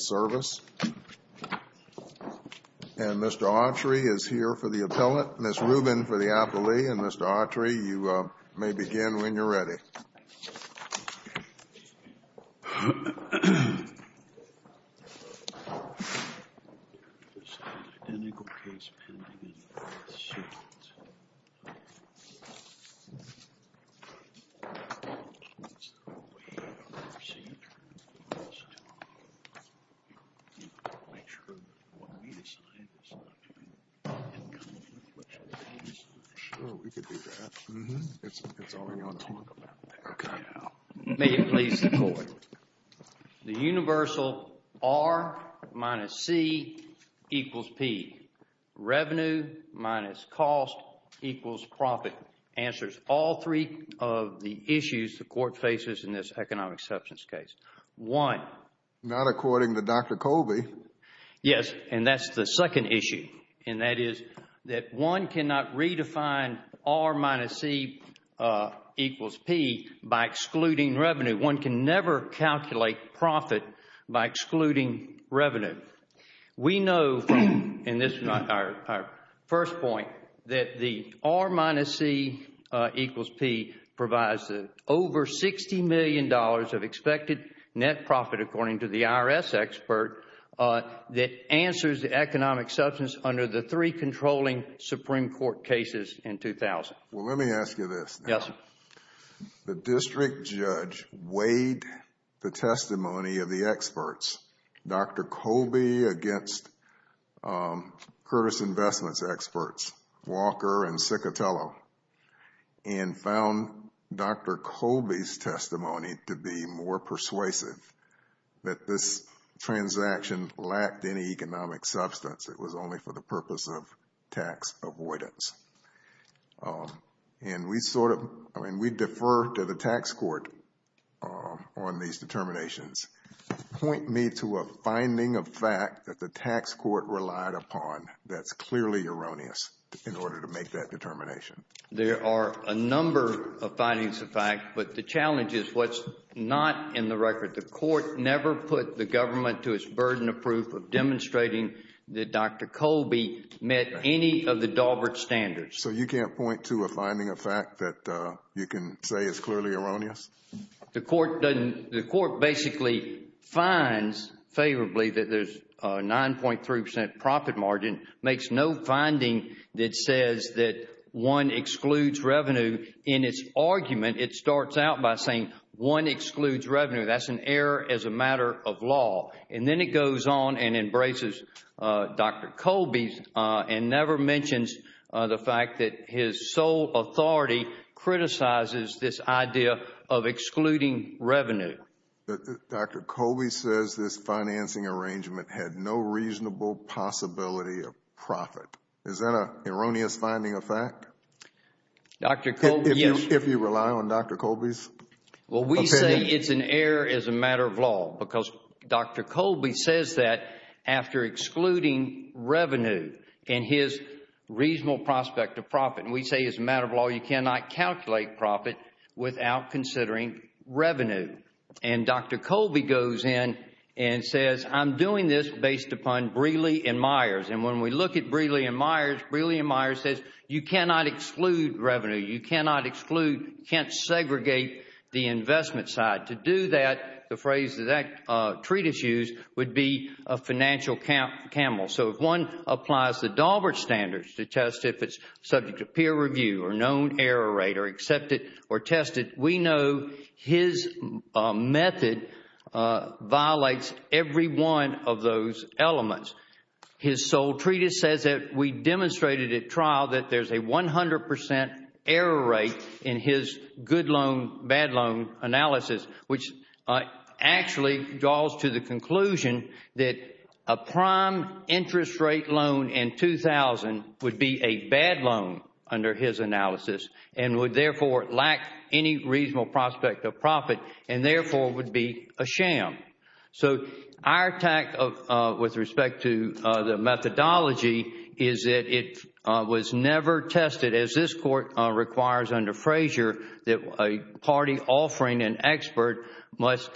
Service, and Mr. Autry is here for the appellant, Ms. Rubin for the appellee, and Mr. Autry, you may begin when you're ready. May it please the Court. The universal R minus C equals P. Revenue minus cost equals profit answers all three of the issues the Court faces in this economic substance case. One. Not according to Dr. Colby. Yes, and that's the second issue. And that is that one cannot redefine R minus C equals P by excluding revenue. One can never calculate profit by excluding revenue. We know, and this is our first point, that the R minus C equals P provides over $60 million of expected net profit, according to the IRS expert, that answers the economic substance under the three controlling Supreme Court cases in 2000. Well, let me ask you this. Yes, sir. The district judge weighed the testimony of the experts, Dr. Colby against Curtis Investments experts, Walker and Ciccatello, and found Dr. Colby's testimony to be more persuasive that this transaction lacked any economic substance. It was only for the purpose of tax avoidance. And we sort of, I mean, we defer to the tax court on these determinations. Point me to a finding of fact that the tax court relied upon that's clearly erroneous in order to make that determination. There are a number of findings of fact, but the challenge is what's not in the record. The court never put the government to its burden of proof of demonstrating that Dr. Colby met any of the Daubert standards. So you can't point to a finding of fact that you can say is clearly erroneous? The court basically finds favorably that there's a 9.3% profit margin, makes no finding that says that one excludes revenue. In its argument, it starts out by saying one excludes revenue. That's an error as a matter of law. And then it goes on and embraces Dr. Colby and never mentions the fact that his sole authority criticizes this idea of excluding revenue. Dr. Colby says this financing arrangement had no reasonable possibility of profit. Is that an erroneous finding of fact? Dr. Colby, yes. If you rely on Dr. Colby's opinion? Well, we say it's an error as a matter of law because Dr. Colby says that after excluding revenue and his reasonable prospect of profit, and we say as a matter of law, you cannot calculate profit without considering revenue. And Dr. Colby goes in and says, I'm doing this based upon Brealey and Myers. And when we look at Brealey and Myers, Brealey and Myers says you cannot exclude revenue. You cannot exclude, can't segregate the investment side. To do that, the phrase that treatise used would be a financial camel. So if one applies the Daubert standards to test if it's subject to peer review or known error rate or accepted or tested, we know his method violates every one of those elements. His sole treatise says that we demonstrated at trial that there's a 100 percent error rate in his good loan, bad loan analysis, which actually draws to the conclusion that a prime interest rate loan in 2000 would be a bad loan under his analysis and would therefore lack any reasonable prospect of profit and therefore would be a sham. So our attack with respect to the methodology is that it was never tested as this Court requires under Frazier that a party offering an expert must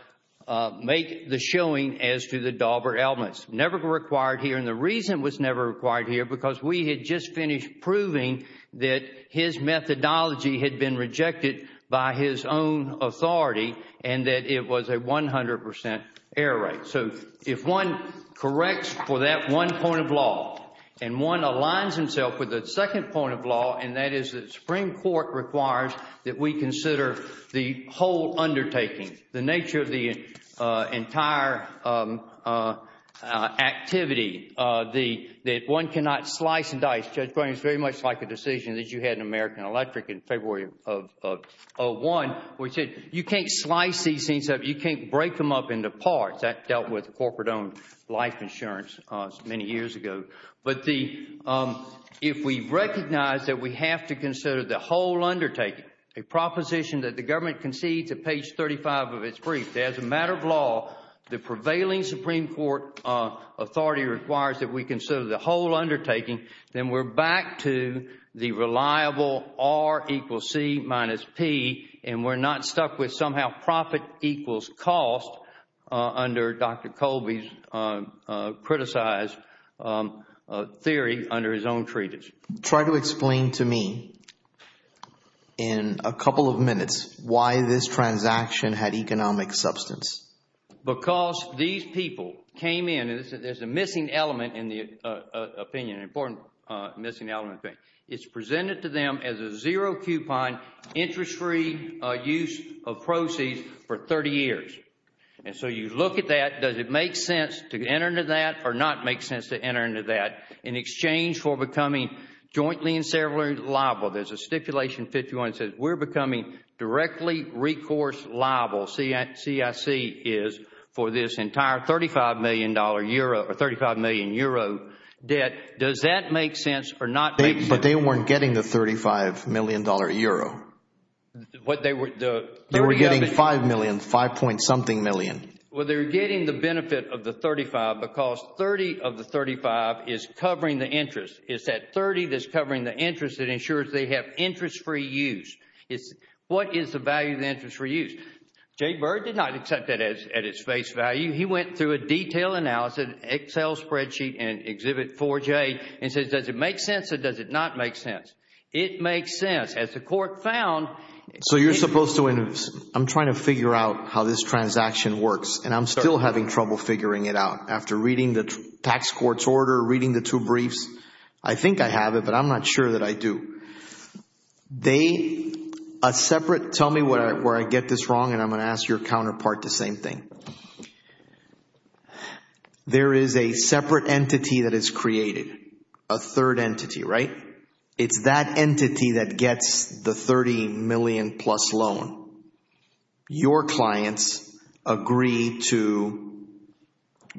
make the showing as to the elements. Never required here. And the reason it was never required here because we had just finished proving that his methodology had been rejected by his own authority and that it was a 100 percent error rate. So if one corrects for that one point of law and one aligns himself with the second point of law, and that is that the Supreme Court requires that we consider the whole undertaking, the nature of the entire activity, that one cannot slice and dice. Judge Browning, it's very much like a decision that you had in American Electric in February of 2001, which said you can't slice these things up, you can't break them up into parts. That dealt with corporate-owned life insurance many years ago. But if we recognize that we have to consider the whole undertaking, a proposition that the government concedes at page 35 of its brief, as a matter of law, the prevailing Supreme Court authority requires that we consider the whole undertaking, then we're back to the reliable R equals C minus P and we're not stuck with somehow profit equals cost under Dr. Colby's criticized theory under his own treatise. Try to explain to me in a couple of minutes why this transaction had economic substance. Because these people came in, there's a missing element in the opinion, an important missing element. It's presented to them as a zero-coupon, interest-free use of proceeds for 30 years. And so you look at that, does it make sense to enter into that or not make sense to enter into that in exchange for becoming jointly and severally liable? There's a stipulation 51 that says we're becoming directly recourse liable, CIC is, for this entire 35 million euro debt. Does that make sense or not make sense? But they weren't getting the 35 million dollar euro. They were getting 5 million, 5 point something million. Well, they're getting the benefit of the 35 because 30 of the 35 is covering the interest. It's that 30 that's covering the interest that ensures they have interest-free use. What is the value of the interest-free use? Jay Byrd did not accept that at its face value. He went through a detailed analysis, an Excel spreadsheet and Exhibit 4J and says, does it make sense or does it not make sense? It makes sense. As the court found... You're supposed to... I'm trying to figure out how this transaction works and I'm still having trouble figuring it out after reading the tax court's order, reading the two briefs. I think I have it, but I'm not sure that I do. They, a separate... Tell me where I get this wrong and I'm going to ask your counterpart the same thing. There is a separate entity that is created, a third entity, right? It's that entity that gets the $30 million plus loan. Your clients agree to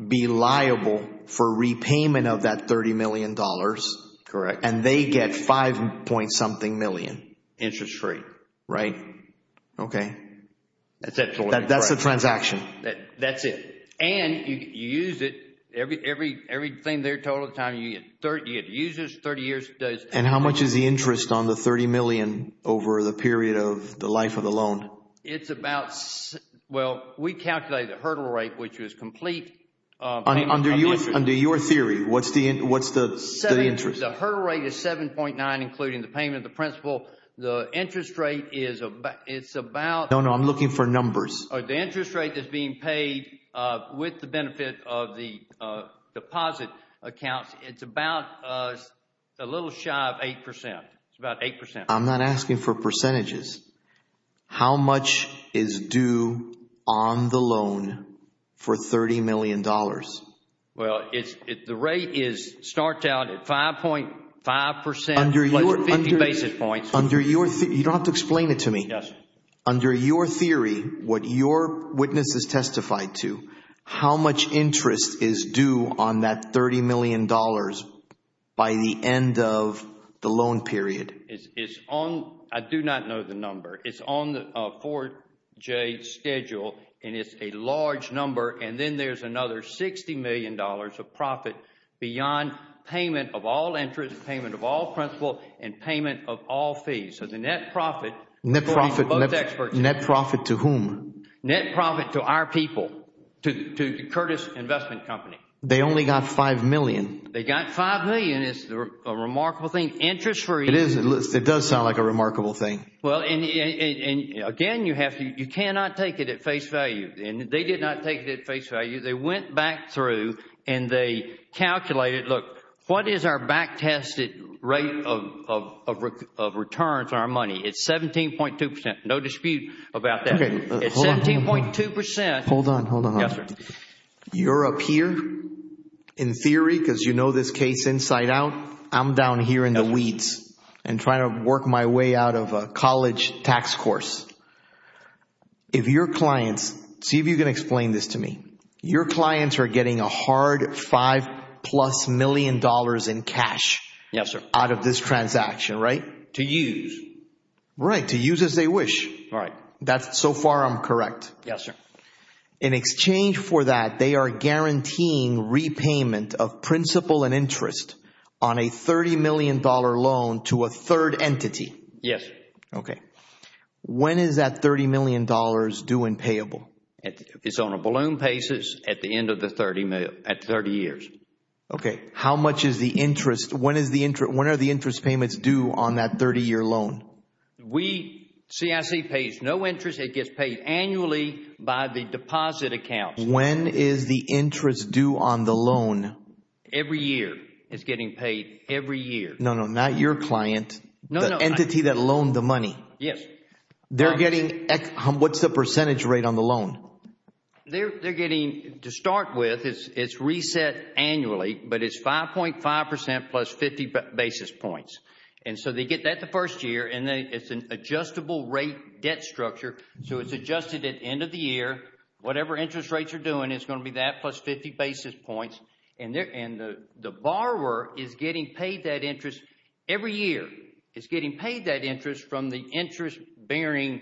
be liable for repayment of that $30 million. Correct. And they get five point something million. Interest-free. Right. Okay. That's absolutely correct. That's the transaction. That's it. And you use it. Everything they're told at the time, you use this 30 years... And how much is the interest on the $30 million over the period of the life of the loan? It's about... Well, we calculated the hurdle rate, which was complete... Under your theory, what's the interest? The hurdle rate is 7.9, including the payment of the principal. The interest rate is about... No, no. I'm looking for numbers. The interest rate that's being paid with the benefit of the deposit accounts, it's about a little shy of 8%. It's about 8%. I'm not asking for percentages. How much is due on the loan for $30 million? Well, the rate starts out at 5.5% plus 50 basis points. Under your... You don't have to explain it to me. Yes. Under your theory, what your witnesses testified to, how much interest is due on that $30 million by the end of the loan period? I do not know the number. It's on the 4J schedule, and it's a large number. And then there's another $60 million of profit beyond payment of all interest, payment of all principal, and payment of all fees. So the net profit... Net profit to whom? Net profit to our people, to Curtis Investment Company. They only got $5 million. They got $5 million. It's a remarkable thing. Interest-free... It is. It does sound like a remarkable thing. Well, and again, you cannot take it at face value. And they did not take it at face value. They went back through and they calculated, look, what is our back-tested rate of returns on our money? It's 17.2%. No dispute about that. Okay. It's 17.2%. Hold on. Hold on. Yes, sir. You're up here in theory, because you know this case inside out. I'm down here in the weeds and trying to work my way out of a college tax course. If your clients... See if you can explain this to me. Your clients are getting a hard $5 plus million in cash... Yes, sir. ...out of this transaction, right? To use. Right. To use as they wish. All right. That's so far I'm correct. Yes, sir. In exchange for that, they are guaranteeing repayment of principal and interest on a $30 million loan to a third entity. Yes. Okay. When is that $30 million due and payable? It's on a balloon basis at the end of the 30 years. Okay. How much is the interest? When are the interest payments due on that 30-year loan? CIC pays no interest. It gets paid annually by the deposit account. When is the interest due on the loan? Every year. It's getting paid every year. No, no. Not your client. No, no. The entity that loaned the money. Yes. They're getting... What's the percentage rate on the loan? They're getting... To start with, it's reset annually, but it's 5.5% plus 50 basis points. And so they get that the first year and it's an adjustable rate debt structure. So it's adjusted at end of the year. Whatever interest rates are doing, it's going to be that plus 50 basis points. And the borrower is getting paid that interest every year. It's getting paid that interest from the interest-bearing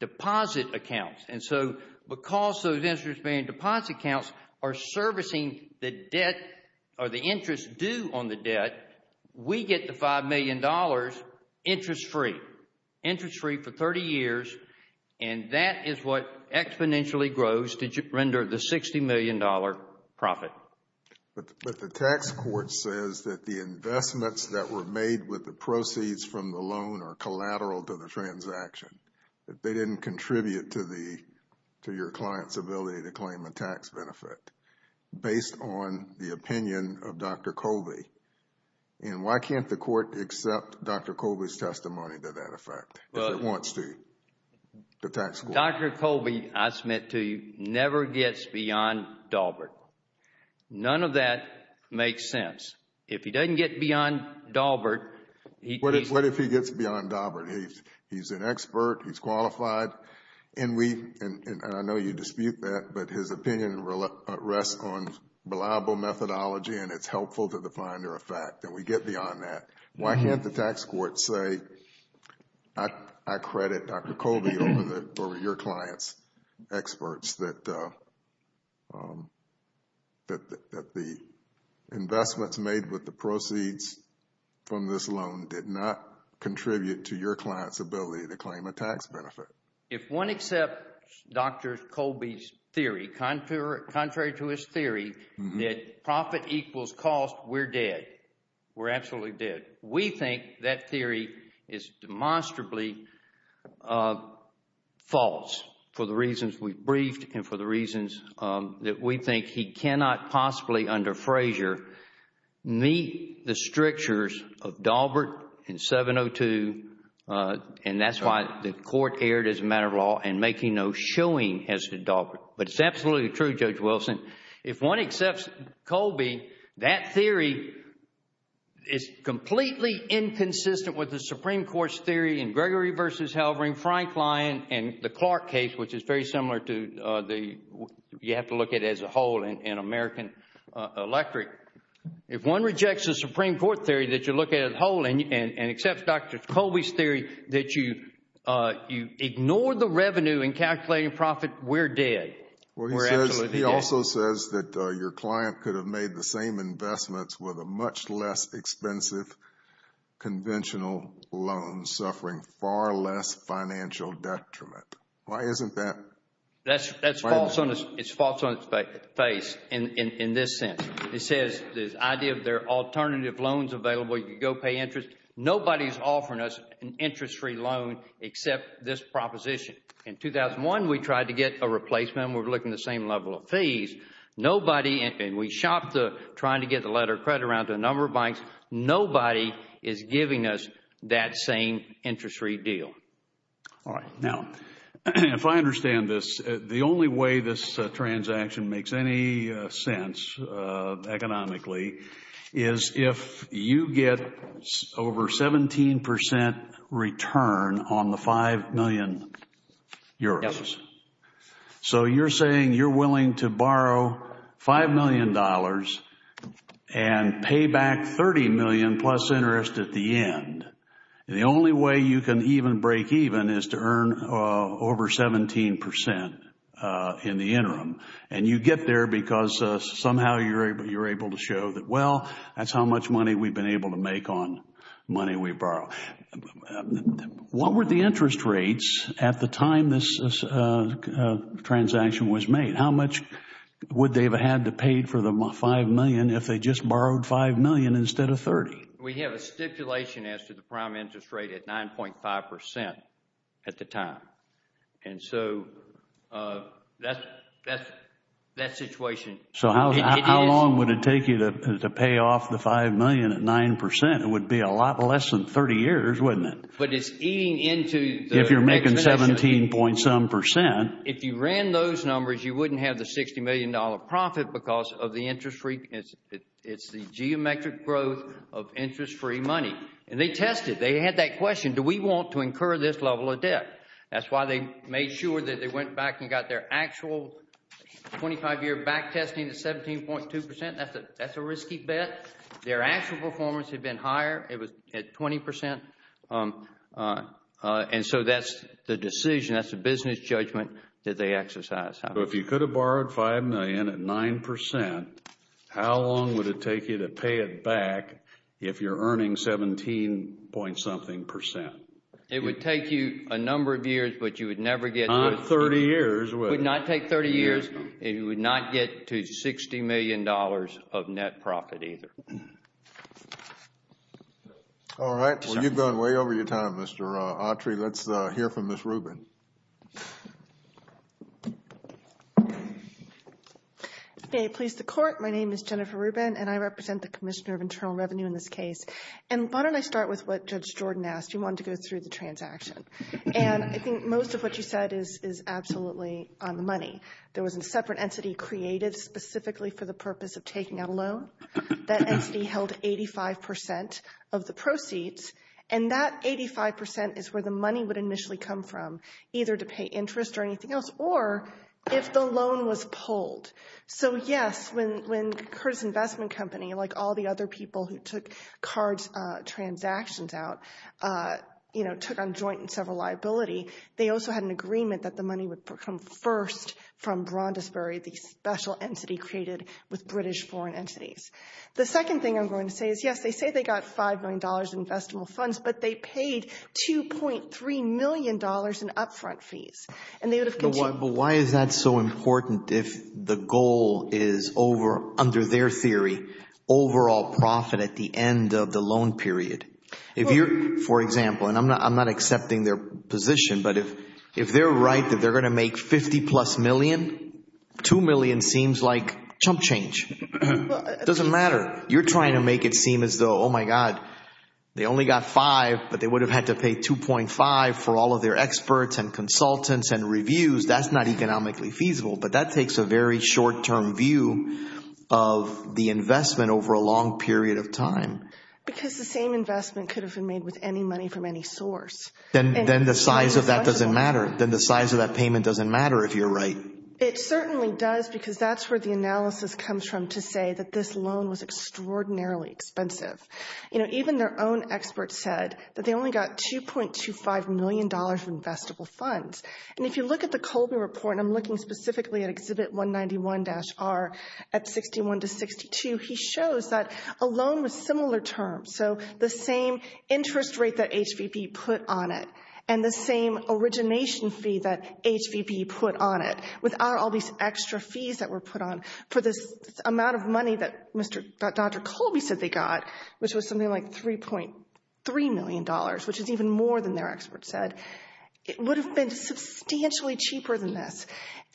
deposit accounts. And so because those interest-bearing deposit accounts are servicing the debt or the interest due on the debt, we get the $5 million interest-free. Interest-free for 30 years. And that is what exponentially grows to render the $60 million profit. But the tax court says that the investments that were made with the proceeds from the loan are collateral to the transaction. That they didn't contribute to your client's ability to claim a tax benefit based on the opinion of Dr. Colby. And why can't the court accept Dr. Colby's testimony to that effect? If it wants to, the tax court. Dr. Colby, I submit to you, never gets beyond Daubert. None of that makes sense. If he doesn't get beyond Daubert, he... What if he gets beyond Daubert? He's an expert. He's qualified. And we, and I know you dispute that, but his opinion rests on reliable methodology and it's helpful to the finder of fact that we get beyond that. Why can't the tax court say, I credit Dr. Colby over your client's experts that the investments made with the proceeds from this loan did not contribute to your client's ability to claim a tax benefit? If one accepts Dr. Colby's theory, contrary to his theory, that profit equals cost, we're dead. We're absolutely dead. We think that theory is demonstrably false for the reasons we've briefed and for the reasons that we think he cannot possibly, under Frazier, meet the strictures of Daubert in 702, and that's why the court erred as a matter of law and making no showing as to Daubert. But it's absolutely true, Judge Wilson. If one accepts Colby, that theory is completely inconsistent with the Supreme Court's theory in Gregory v. Halvering, Frank Lyon, and the Clark case, which is very similar to the, you have to look at as a whole in American Electric. If one rejects the Supreme Court theory that you look at as a whole and accepts Dr. Colby's theory that you ignore the revenue in calculating profit, we're dead. We're absolutely dead. He also says that your client could have made the same investments with a much less expensive conventional loan, suffering far less financial detriment. Why isn't that? That's false. It's false on its face in this sense. It says this idea of there are alternative loans available. You could go pay interest. Nobody's offering us an interest-free loan except this proposition. In 2001, we tried to get a replacement. We're looking at the same level of fees. Nobody, and we shopped the trying to get the letter of credit around to a number of banks. Nobody is giving us that same interest-free deal. All right. Now, if I understand this, the only way this transaction makes any sense economically is if you get over 17 percent return on the 5 million euros. Yes. So you're saying you're willing to borrow 5 million dollars and pay back 30 million plus interest at the end. The only way you can even break even is to earn over 17 percent in the interim, and you get there because somehow you're able to show that, well, that's how much money we've been able to make on money we borrow. Now, what were the interest rates at the time this transaction was made? How much would they have had to pay for the 5 million if they just borrowed 5 million instead of 30? We have a stipulation as to the prime interest rate at 9.5 percent at the time. And so that situation— So how long would it take you to pay off the 5 million at 9 percent? It would be a lot less than 30 years, wouldn't it? But it's eating into— If you're making 17 point some percent. If you ran those numbers, you wouldn't have the 60 million dollar profit because of the interest rate. It's the geometric growth of interest-free money. And they tested. They had that question. Do we want to incur this level of debt? That's why they made sure that they went back and got their actual 25-year back testing at 17.2 percent. That's a risky bet. Their actual performance had been higher. It was at 20 percent. And so that's the decision. That's a business judgment that they exercised. If you could have borrowed 5 million at 9 percent, how long would it take you to pay it back if you're earning 17 point something percent? It would take you a number of years, but you would never get— Not 30 years, would it? Would not take 30 years. It would not get to 60 million dollars of net profit either. All right. Well, you've gone way over your time, Mr. Autry. Let's hear from Ms. Rubin. May it please the Court. My name is Jennifer Rubin, and I represent the Commissioner of Internal Revenue in this case. And why don't I start with what Judge Jordan asked. You wanted to go through the transaction. And I think most of what you said is absolutely on the money. There was a separate entity created specifically for the purpose of taking out a loan. That entity held 85 percent of the proceeds, and that 85 percent is where the money would initially come from, either to pay interest or anything else, or if the loan was pulled. So, yes, when Curtis Investment Company, like all the other people who took cards transactions out, you know, took on joint and several liability, they also had an agreement that the money would come first from Braundisbury, the special entity created with British foreign entities. The second thing I'm going to say is, yes, they say they got five million dollars in investable funds, but they paid 2.3 million dollars in upfront fees. And they would have— But why is that so important if the goal is over, under their theory, overall profit at the end of the loan period? For example, and I'm not accepting their position, but if they're right, if they're going to make 50 plus million, two million seems like chump change. Doesn't matter. You're trying to make it seem as though, oh, my God, they only got five, but they would have had to pay 2.5 for all of their experts and consultants and reviews. That's not economically feasible, but that takes a very short-term view of the investment over a long period of time. Because the same investment could have been made with any money from any source. Then the size of that doesn't matter. Then the size of that payment doesn't matter if you're right. It certainly does because that's where the analysis comes from to say that this loan was extraordinarily expensive. You know, even their own experts said that they only got 2.25 million dollars in investable funds. And if you look at the Colby report, and I'm looking specifically at Exhibit 191-R at 61 to 62, he shows that a loan with similar terms, so the same interest rate that HVB put on it and the same origination fee that HVB put on it without all these extra fees that were put on for this amount of money that Dr. Colby said they got, which was something like 3.3 million dollars, which is even more than their experts said, it would have been substantially cheaper than this.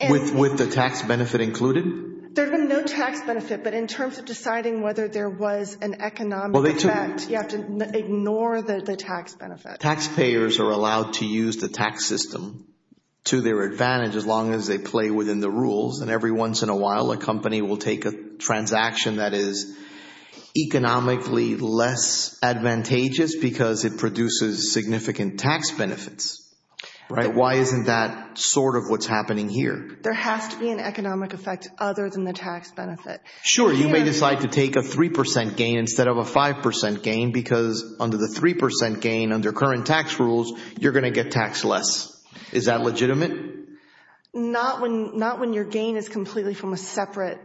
With the tax benefit included? There had been no tax benefit, but in terms of deciding whether there was an economic effect, you have to ignore the tax benefit. Taxpayers are allowed to use the tax system to their advantage as long as they play within the rules. And every once in a while, a company will take a transaction that is economically less advantageous because it produces significant tax benefits, right? Why isn't that sort of what's happening here? There has to be an economic effect other than the tax benefit. Sure, you may decide to take a 3 percent gain instead of a 5 percent gain because under the 3 percent gain under current tax rules, you're going to get taxed less. Is that legitimate? Not when your gain is completely from a separate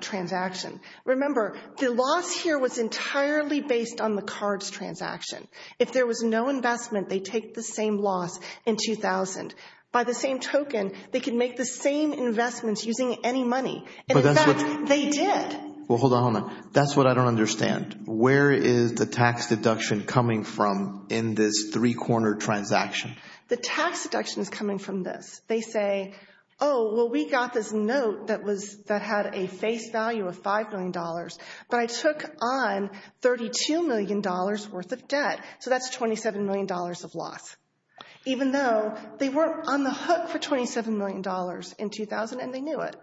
transaction. Remember, the loss here was entirely based on the cards transaction. If there was no investment, they take the same loss in 2000. By the same token, they can make the same investments using any money, and in fact, they did. Well, hold on. That's what I don't understand. Where is the tax deduction coming from in this three-corner transaction? The tax deduction is coming from this. They say, oh, well, we got this note that had a face value of $5 million, but I took on $32 million worth of debt. So that's $27 million of loss. Even though they weren't on the hook for $27 million in 2000, and they knew it.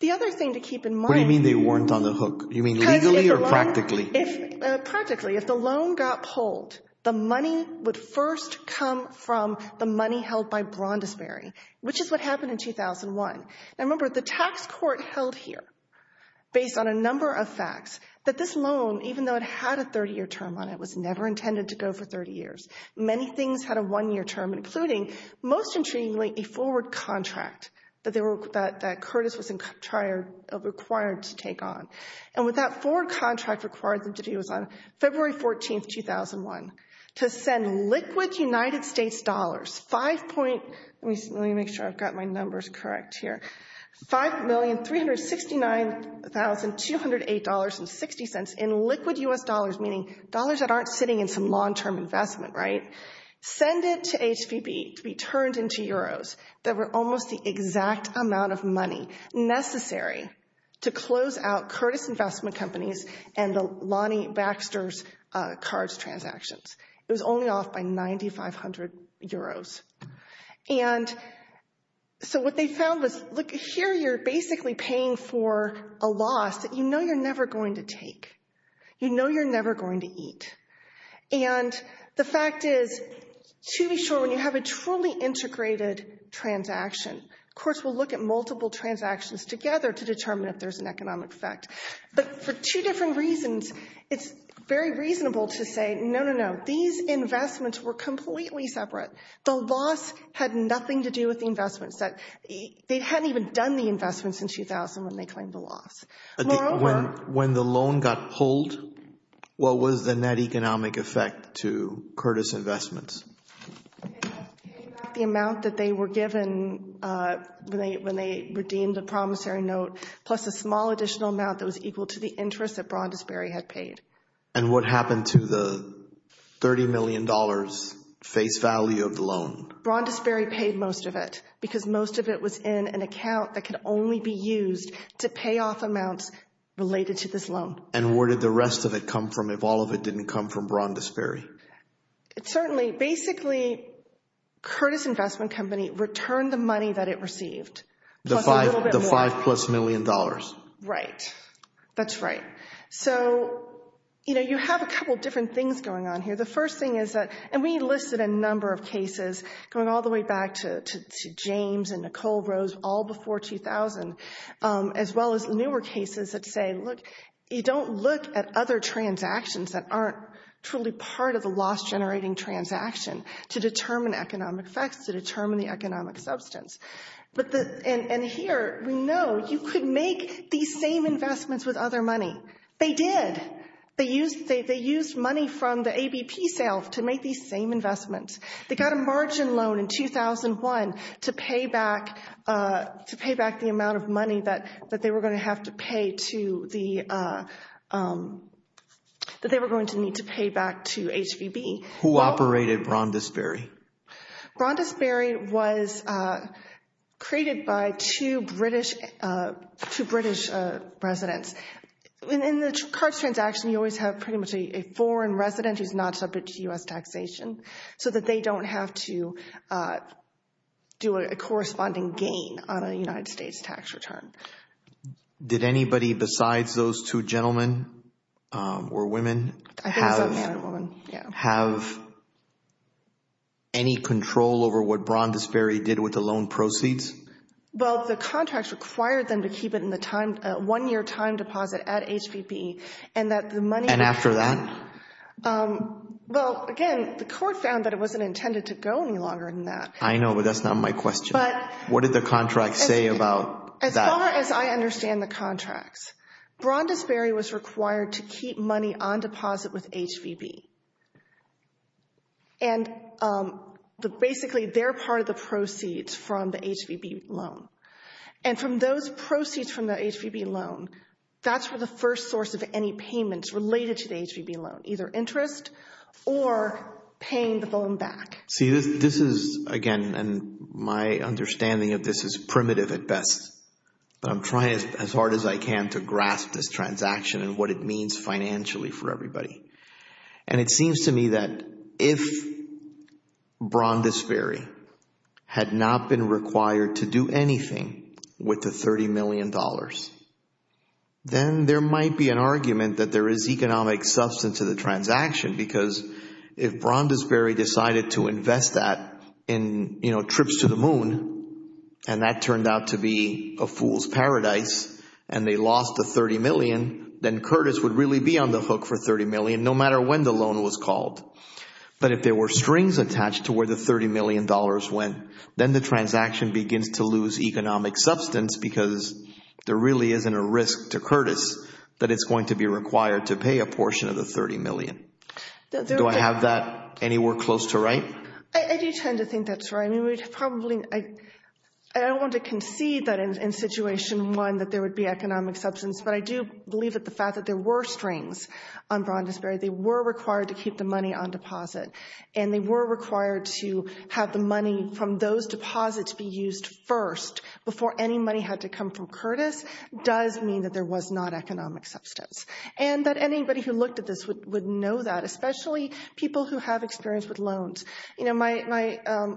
The other thing to keep in mind— What do you mean they weren't on the hook? You mean legally or practically? Practically. If the loan got pulled, the money would first come from the money held by Brondisberry, which is what happened in 2001. Now, remember, the tax court held here, based on a number of facts, that this loan, even though it had a 30-year term on it, was never intended to go for 30 years. Many things had a one-year term, including, most intriguingly, a forward contract that Curtis was required to take on. And what that forward contract required them to do was, on February 14, 2001, to send liquid United States dollars—let me make sure I've got my numbers correct here—$5,369,208.60 in liquid U.S. dollars, meaning dollars that aren't sitting in some long-term investment, right? Send it to HVB to be turned into euros. That were almost the exact amount of money necessary to close out Curtis Investment Companies and the Lonnie Baxter's cards transactions. It was only off by 9,500 euros. And so what they found was, look, here you're basically paying for a loss that you know you're never going to take. You know you're never going to eat. And the fact is, to be sure, when you have a truly integrated transaction, of course, we'll look at multiple transactions together to determine if there's an economic effect. But for two different reasons, it's very reasonable to say, no, no, no, these investments were completely separate. The loss had nothing to do with the investments. They hadn't even done the investments in 2000 when they claimed the loss. When the loan got pulled, what was the net economic effect to Curtis Investments? The amount that they were given when they redeemed the promissory note, plus a small additional amount that was equal to the interest that Brondisberry had paid. And what happened to the $30 million face value of the loan? Brondisberry paid most of it because most of it was in an account that could only be related to this loan. And where did the rest of it come from if all of it didn't come from Brondisberry? Certainly. Basically, Curtis Investment Company returned the money that it received. The five plus million dollars. Right. That's right. So, you know, you have a couple different things going on here. The first thing is that, and we listed a number of cases going all the way back to James and look, you don't look at other transactions that aren't truly part of the loss generating transaction to determine economic effects, to determine the economic substance. And here, we know you could make these same investments with other money. They did. They used money from the ABP sales to make these same investments. They got a margin loan in 2001 to pay back the amount of money that they were going to pay to the, that they were going to need to pay back to HVB. Who operated Brondisberry? Brondisberry was created by two British residents. In the cards transaction, you always have pretty much a foreign resident who's not subject to U.S. taxation so that they don't have to do a corresponding gain on a United States tax return. Did anybody besides those two gentlemen or women have any control over what Brondisberry did with the loan proceeds? Well, the contracts required them to keep it in the time, one-year time deposit at HVB and that the money- And after that? Well, again, the court found that it wasn't intended to go any longer than that. I know, but that's not my question. What did the contract say about that? As far as I understand the contracts, Brondisberry was required to keep money on deposit with HVB. And basically, they're part of the proceeds from the HVB loan. And from those proceeds from the HVB loan, that's where the first source of any payments related to the HVB loan, either interest or paying the loan back. See, this is, again, and my understanding of this is primitive at best, but I'm trying as hard as I can to grasp this transaction and what it means financially for everybody. And it seems to me that if Brondisberry had not been required to do anything with the $30 million, then there might be an argument that there is economic substance to the transaction because if Brondisberry decided to invest that in trips to the moon and that turned out to be a fool's paradise and they lost the $30 million, then Curtis would really be on the hook for $30 million no matter when the loan was called. But if there were strings attached to where the $30 million went, then the transaction begins to lose economic substance because there really isn't a risk to Curtis that it's going to be required to pay a portion of the $30 million. Do I have that anywhere close to right? I do tend to think that's right. I mean, we'd probably, I don't want to concede that in situation one that there would be economic substance, but I do believe that the fact that there were strings on Brondisberry, they were required to keep the money on deposit and they were required to have the money from those deposits be used first before any money had to come from Curtis does mean that there was not economic substance. And that anybody who looked at this would know that, especially people who have experience with loans. You know, my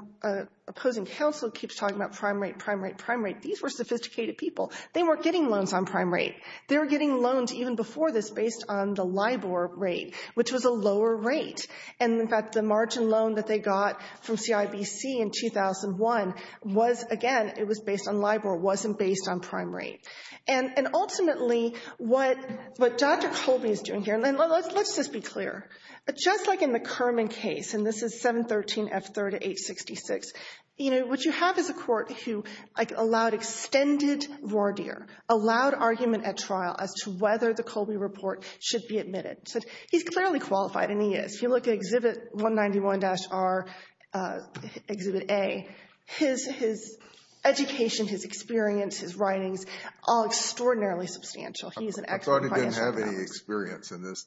opposing counsel keeps talking about prime rate, prime rate, prime rate. These were sophisticated people. They weren't getting loans on prime rate. They were getting loans even before this based on the LIBOR rate, which was a lower rate. And in fact, the margin loan that they got from CIBC in 2001 was, again, it was based on LIBOR, wasn't based on prime rate. And ultimately, what Dr. Colby is doing here, and let's just be clear, just like in the Kerman case, and this is 713 F3 to 866, you know, what you have is a court who allowed extended voir dire, allowed argument at trial as to whether the Colby report should be admitted. So he's clearly qualified, and he is. If you look at Exhibit 191-R, Exhibit A, his education, his experience, his writings all extraordinarily substantial. I thought he didn't have any experience in these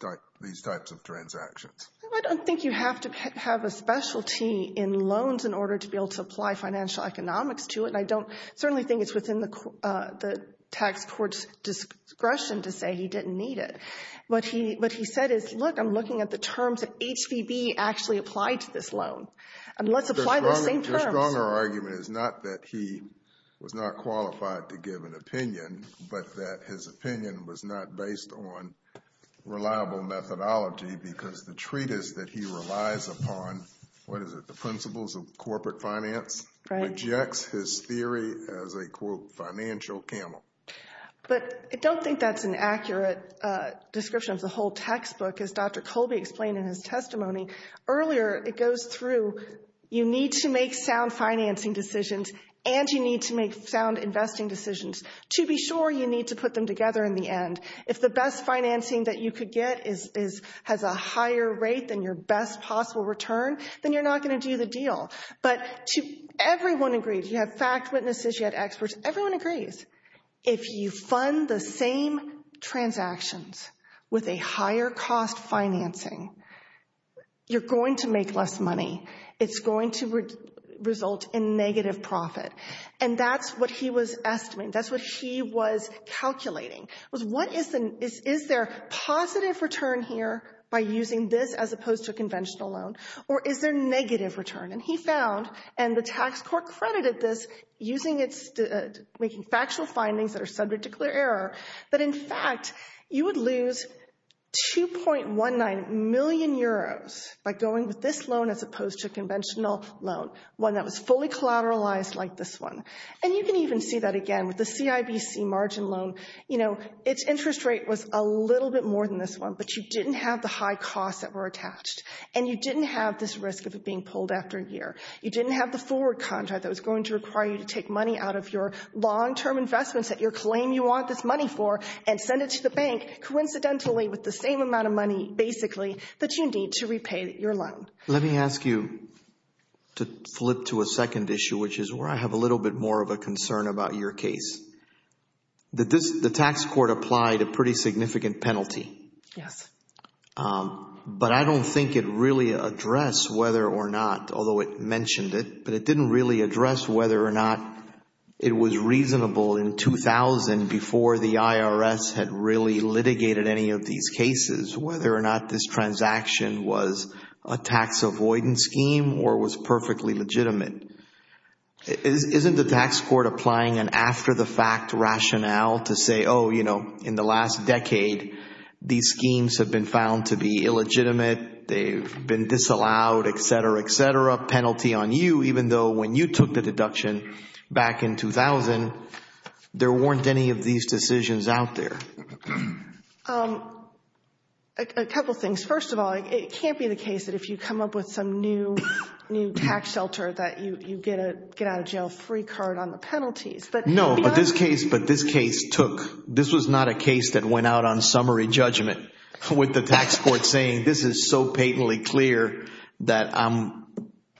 types of transactions. I don't think you have to have a specialty in loans in order to be able to apply financial economics to it. And I don't certainly think it's within the tax court's discretion to say he didn't need it. What he said is, look, I'm looking at the terms that HVB actually applied to this loan, and let's apply those same terms. The stronger argument is not that he was not qualified to give an opinion, but that his opinion was not based on reliable methodology because the treatise that he relies upon, what is it, the principles of corporate finance, rejects his theory as a, quote, financial camel. But I don't think that's an accurate description of the whole textbook. As Dr. Colby explained in his testimony earlier, it goes through, you need to make sound financing decisions, and you need to make sound investing decisions. To be sure, you need to put them together in the end. If the best financing that you could get has a higher rate than your best possible return, then you're not going to do the deal. But everyone agrees. You have fact witnesses. You have experts. Everyone agrees. If you fund the same transactions with a higher cost financing, you're going to make less money. It's going to result in negative profit. And that's what he was estimating. That's what he was calculating, was what is the, is there positive return here by using this as opposed to a conventional loan? Or is there negative return? And he found, and the tax court credited this using its, making factual findings that are subject to clear error, that in fact, you would lose 2.19 million euros by going with this loan as opposed to a conventional loan, one that was fully collateralized like this one. And you can even see that again with the CIBC margin loan. You know, its interest rate was a little bit more than this one, but you didn't have the high costs that were attached. And you didn't have this risk of it being pulled after a year. You didn't have the forward contract that was going to require you to take money out of your long-term investments that you claim you want this money for and send it to the bank coincidentally with the same amount of money, basically, that you need to repay your loan. Let me ask you to flip to a second issue, which is where I have a little bit more of a concern about your case. The tax court applied a pretty significant penalty. Yes. But I don't think it really addressed whether or not, although it mentioned it, but it didn't really address whether or not it was reasonable in 2000 before the IRS had really litigated any of these cases, whether or not this transaction was a tax avoidance scheme or was perfectly legitimate. Isn't the tax court applying an after-the-fact rationale to say, oh, you know, in the last decade, these schemes have been found to be illegitimate. They've been disallowed, et cetera, et cetera. Penalty on you, even though when you took the deduction back in 2000, there weren't any of these decisions out there. A couple of things. First of all, it can't be the case that if you come up with some new tax shelter that you get a get-out-of-jail-free card on the penalties. No, but this case took, this was not a case that went out on summary judgment with the tax court saying, this is so patently clear that I'm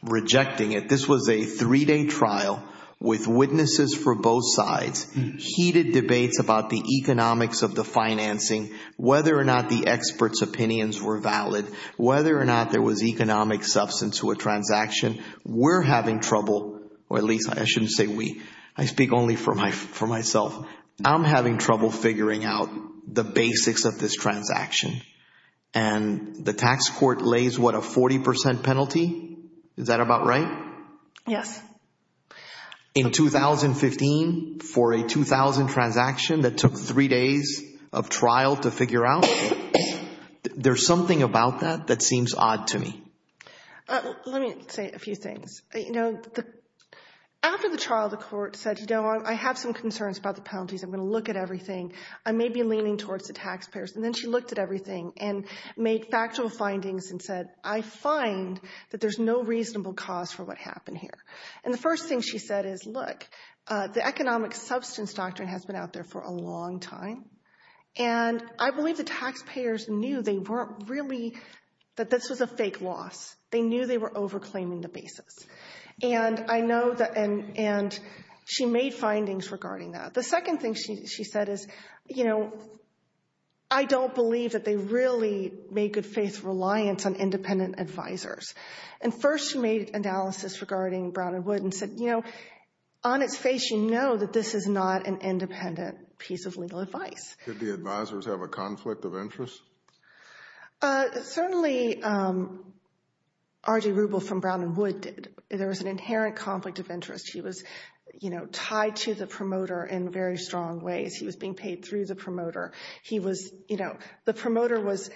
rejecting it. This was a three-day trial with witnesses for both sides, heated debates about the economics of the financing, whether or not the experts' opinions were valid, whether or not there was economic substance to a transaction. We're having trouble, or at least I shouldn't say we. I speak only for myself. I'm having trouble figuring out the basics of this transaction, and the tax court lays what, a 40 percent penalty? Is that about right? Yes. In 2015, for a 2000 transaction that took three days of trial to figure out, there's something about that that seems odd to me. Let me say a few things. After the trial, the court said, I have some concerns about the penalties. I'm going to look at everything. I may be leaning towards the taxpayers. And then she looked at everything and made factual findings and said, I find that there's no reasonable cause for what happened here. And the first thing she said is, look, the economic substance doctrine has been out there for a long time, and I believe the taxpayers knew they weren't really, that this was a loss. They knew they were over-claiming the basis. And I know that, and she made findings regarding that. The second thing she said is, you know, I don't believe that they really made good faith reliance on independent advisors. And first, she made an analysis regarding Brown and Wood and said, you know, on its face, you know that this is not an independent piece of legal advice. Did the advisors have a conflict of interest? Certainly, R.J. Rubel from Brown and Wood did. There was an inherent conflict of interest. He was, you know, tied to the promoter in very strong ways. He was being paid through the promoter. He was, you know, the promoter was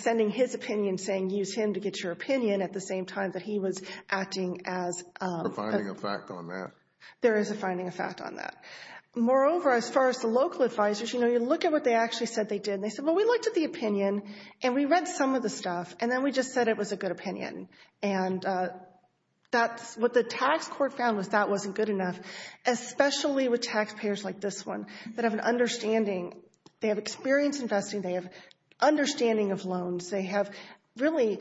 sending his opinion saying, use him to get your opinion at the same time that he was acting as... A finding of fact on that. There is a finding of fact on that. Moreover, as far as the local advisors, you know, you look at what they actually said that they did, and they said, well, we looked at the opinion and we read some of the stuff and then we just said it was a good opinion. And that's what the tax court found was that wasn't good enough, especially with taxpayers like this one that have an understanding. They have experience investing. They have understanding of loans. They have really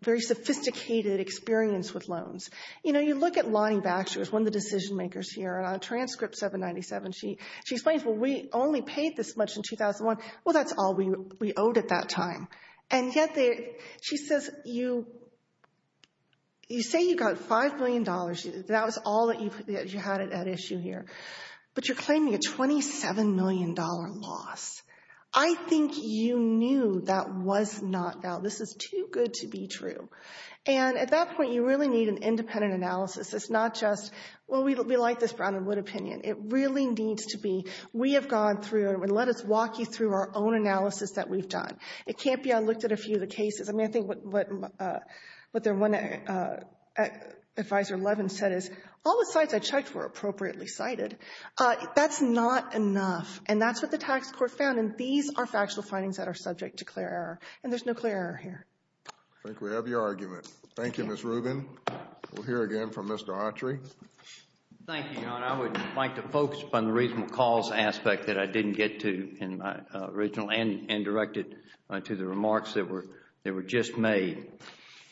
very sophisticated experience with loans. You know, you look at Lonnie Baxter. She was one of the decision makers here. On a transcript 797, she explains, well, we only paid this much in 2001. Well, that's all we owed at that time. And yet, she says, you say you got five million dollars. That was all that you had at issue here. But you're claiming a $27 million loss. I think you knew that was not valid. This is too good to be true. And at that point, you really need an independent analysis. It's not just, well, we like this Brown and Wood opinion. It really needs to be, we have gone through and let us walk you through our own analysis that we've done. It can't be I looked at a few of the cases. I mean, I think what their one advisor, Levin, said is, all the sites I checked were appropriately cited. That's not enough. And that's what the tax court found. And these are factual findings that are subject to clear error. And there's no clear error here. I think we have your argument. Thank you, Ms. Rubin. We'll hear again from Mr. Autry. Thank you, Your Honor. I would like to focus on the reasonable cause aspect that I didn't get to in my original and directed to the remarks that were just made.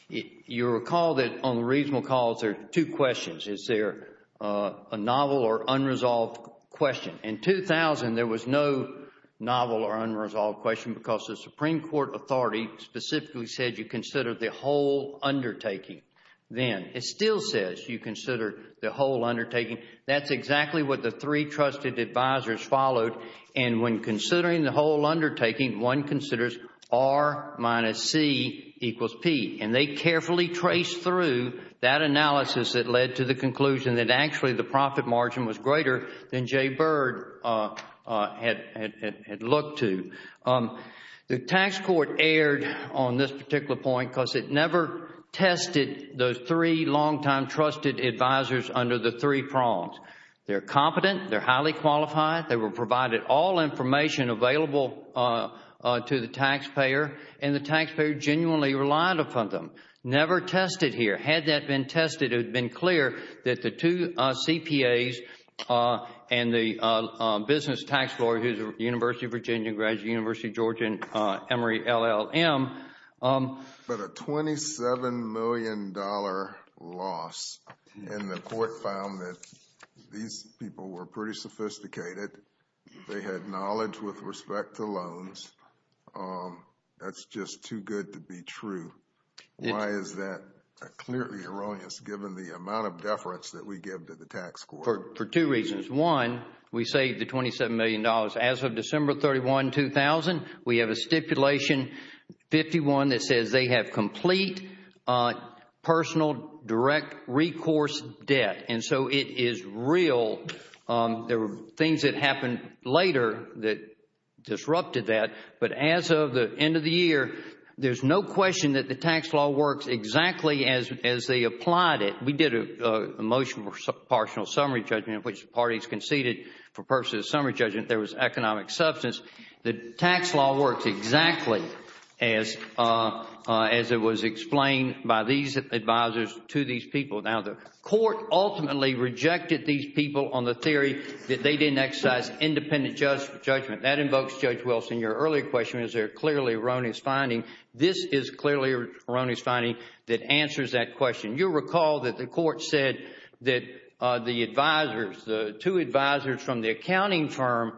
You recall that on the reasonable cause, there are two questions. Is there a novel or unresolved question? In 2000, there was no novel or unresolved question because the Supreme Court authority specifically said you consider the whole undertaking. Then it still says you consider the whole undertaking. That's exactly what the three trusted advisors followed. And when considering the whole undertaking, one considers R minus C equals P. And they carefully traced through that analysis that led to the conclusion that actually the profit margin was greater than Jay Byrd had looked to. The tax court erred on this particular point because it never tested those three long-time trusted advisors under the three prongs. They're competent. They're highly qualified. They were provided all information available to the taxpayer and the taxpayer genuinely relied upon them. Never tested here. Had that been tested, it would have been clear that the two CPAs and the business tax lawyer who's a University of Virginia graduate, University of Georgia, Emory, LLM. But a $27 million loss and the court found that these people were pretty sophisticated. They had knowledge with respect to loans. That's just too good to be true. Why is that clearly erroneous given the amount of deference that we give to the tax court? For two reasons. We saved the $27 million. As of December 31, 2000, we have a stipulation 51 that says they have complete personal direct recourse debt. And so it is real. There were things that happened later that disrupted that. But as of the end of the year, there's no question that the tax law works exactly as they applied it. We did a motion for partial summary judgment, which the parties conceded for purposes of summary judgment, there was economic substance. The tax law works exactly as it was explained by these advisors to these people. Now, the court ultimately rejected these people on the theory that they didn't exercise independent judgment. That invokes Judge Wilson. Your earlier question, is there clearly erroneous finding? This is clearly erroneous finding that answers that question. You'll recall that the court said that the advisors, the two advisors from the accounting firm,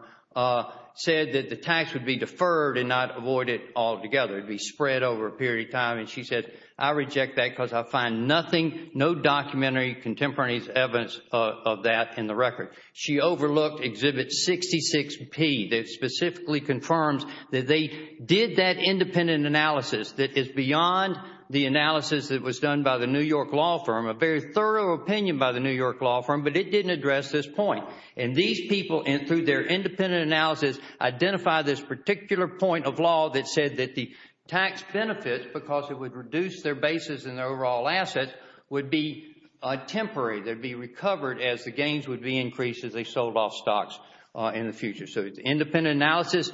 said that the tax would be deferred and not avoided altogether. It would be spread over a period of time. And she said, I reject that because I find nothing, no documentary, contemporaneous evidence of that in the record. She overlooked Exhibit 66P that specifically confirms that they did that independent analysis that is beyond the analysis that was done by the New York law firm, a very thorough opinion by the New York law firm, but it didn't address this point. And these people, through their independent analysis, identified this particular point of law that said that the tax benefits, because it would reduce their basis in their overall assets, would be temporary. They would be recovered as the gains would be increased as they sold off stocks in the future. So the independent analysis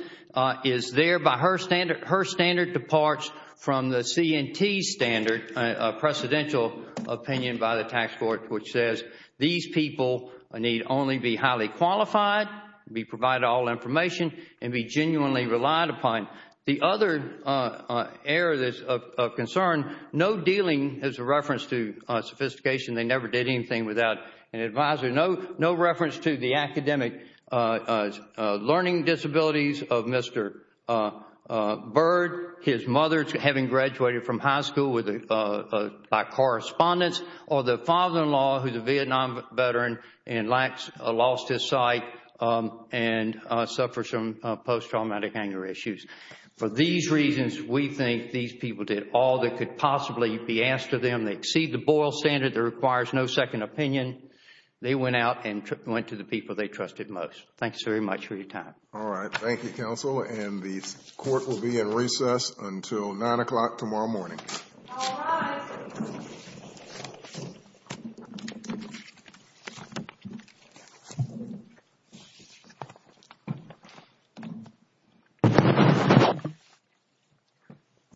is there by her standard. Her standard departs from the C&T standard, a precedential opinion by the tax court, which says these people need only be highly qualified, be provided all information, and be genuinely relied upon. The other area of concern, no dealing is a reference to sophistication. They never did anything without an advisor. No reference to the academic learning disabilities of Mr. Bird, his mother having graduated from high school by correspondence, or the father-in-law who is a Vietnam veteran and lost his sight and suffered some post-traumatic anger issues. For these reasons, we think these people did all that could possibly be asked of them. They exceed the Boyle standard. There requires no second opinion. They went out and went to the people they trusted most. Thank you very much for your time. All right. Thank you, counsel. And the court will be in recess until 9 o'clock tomorrow morning. All rise.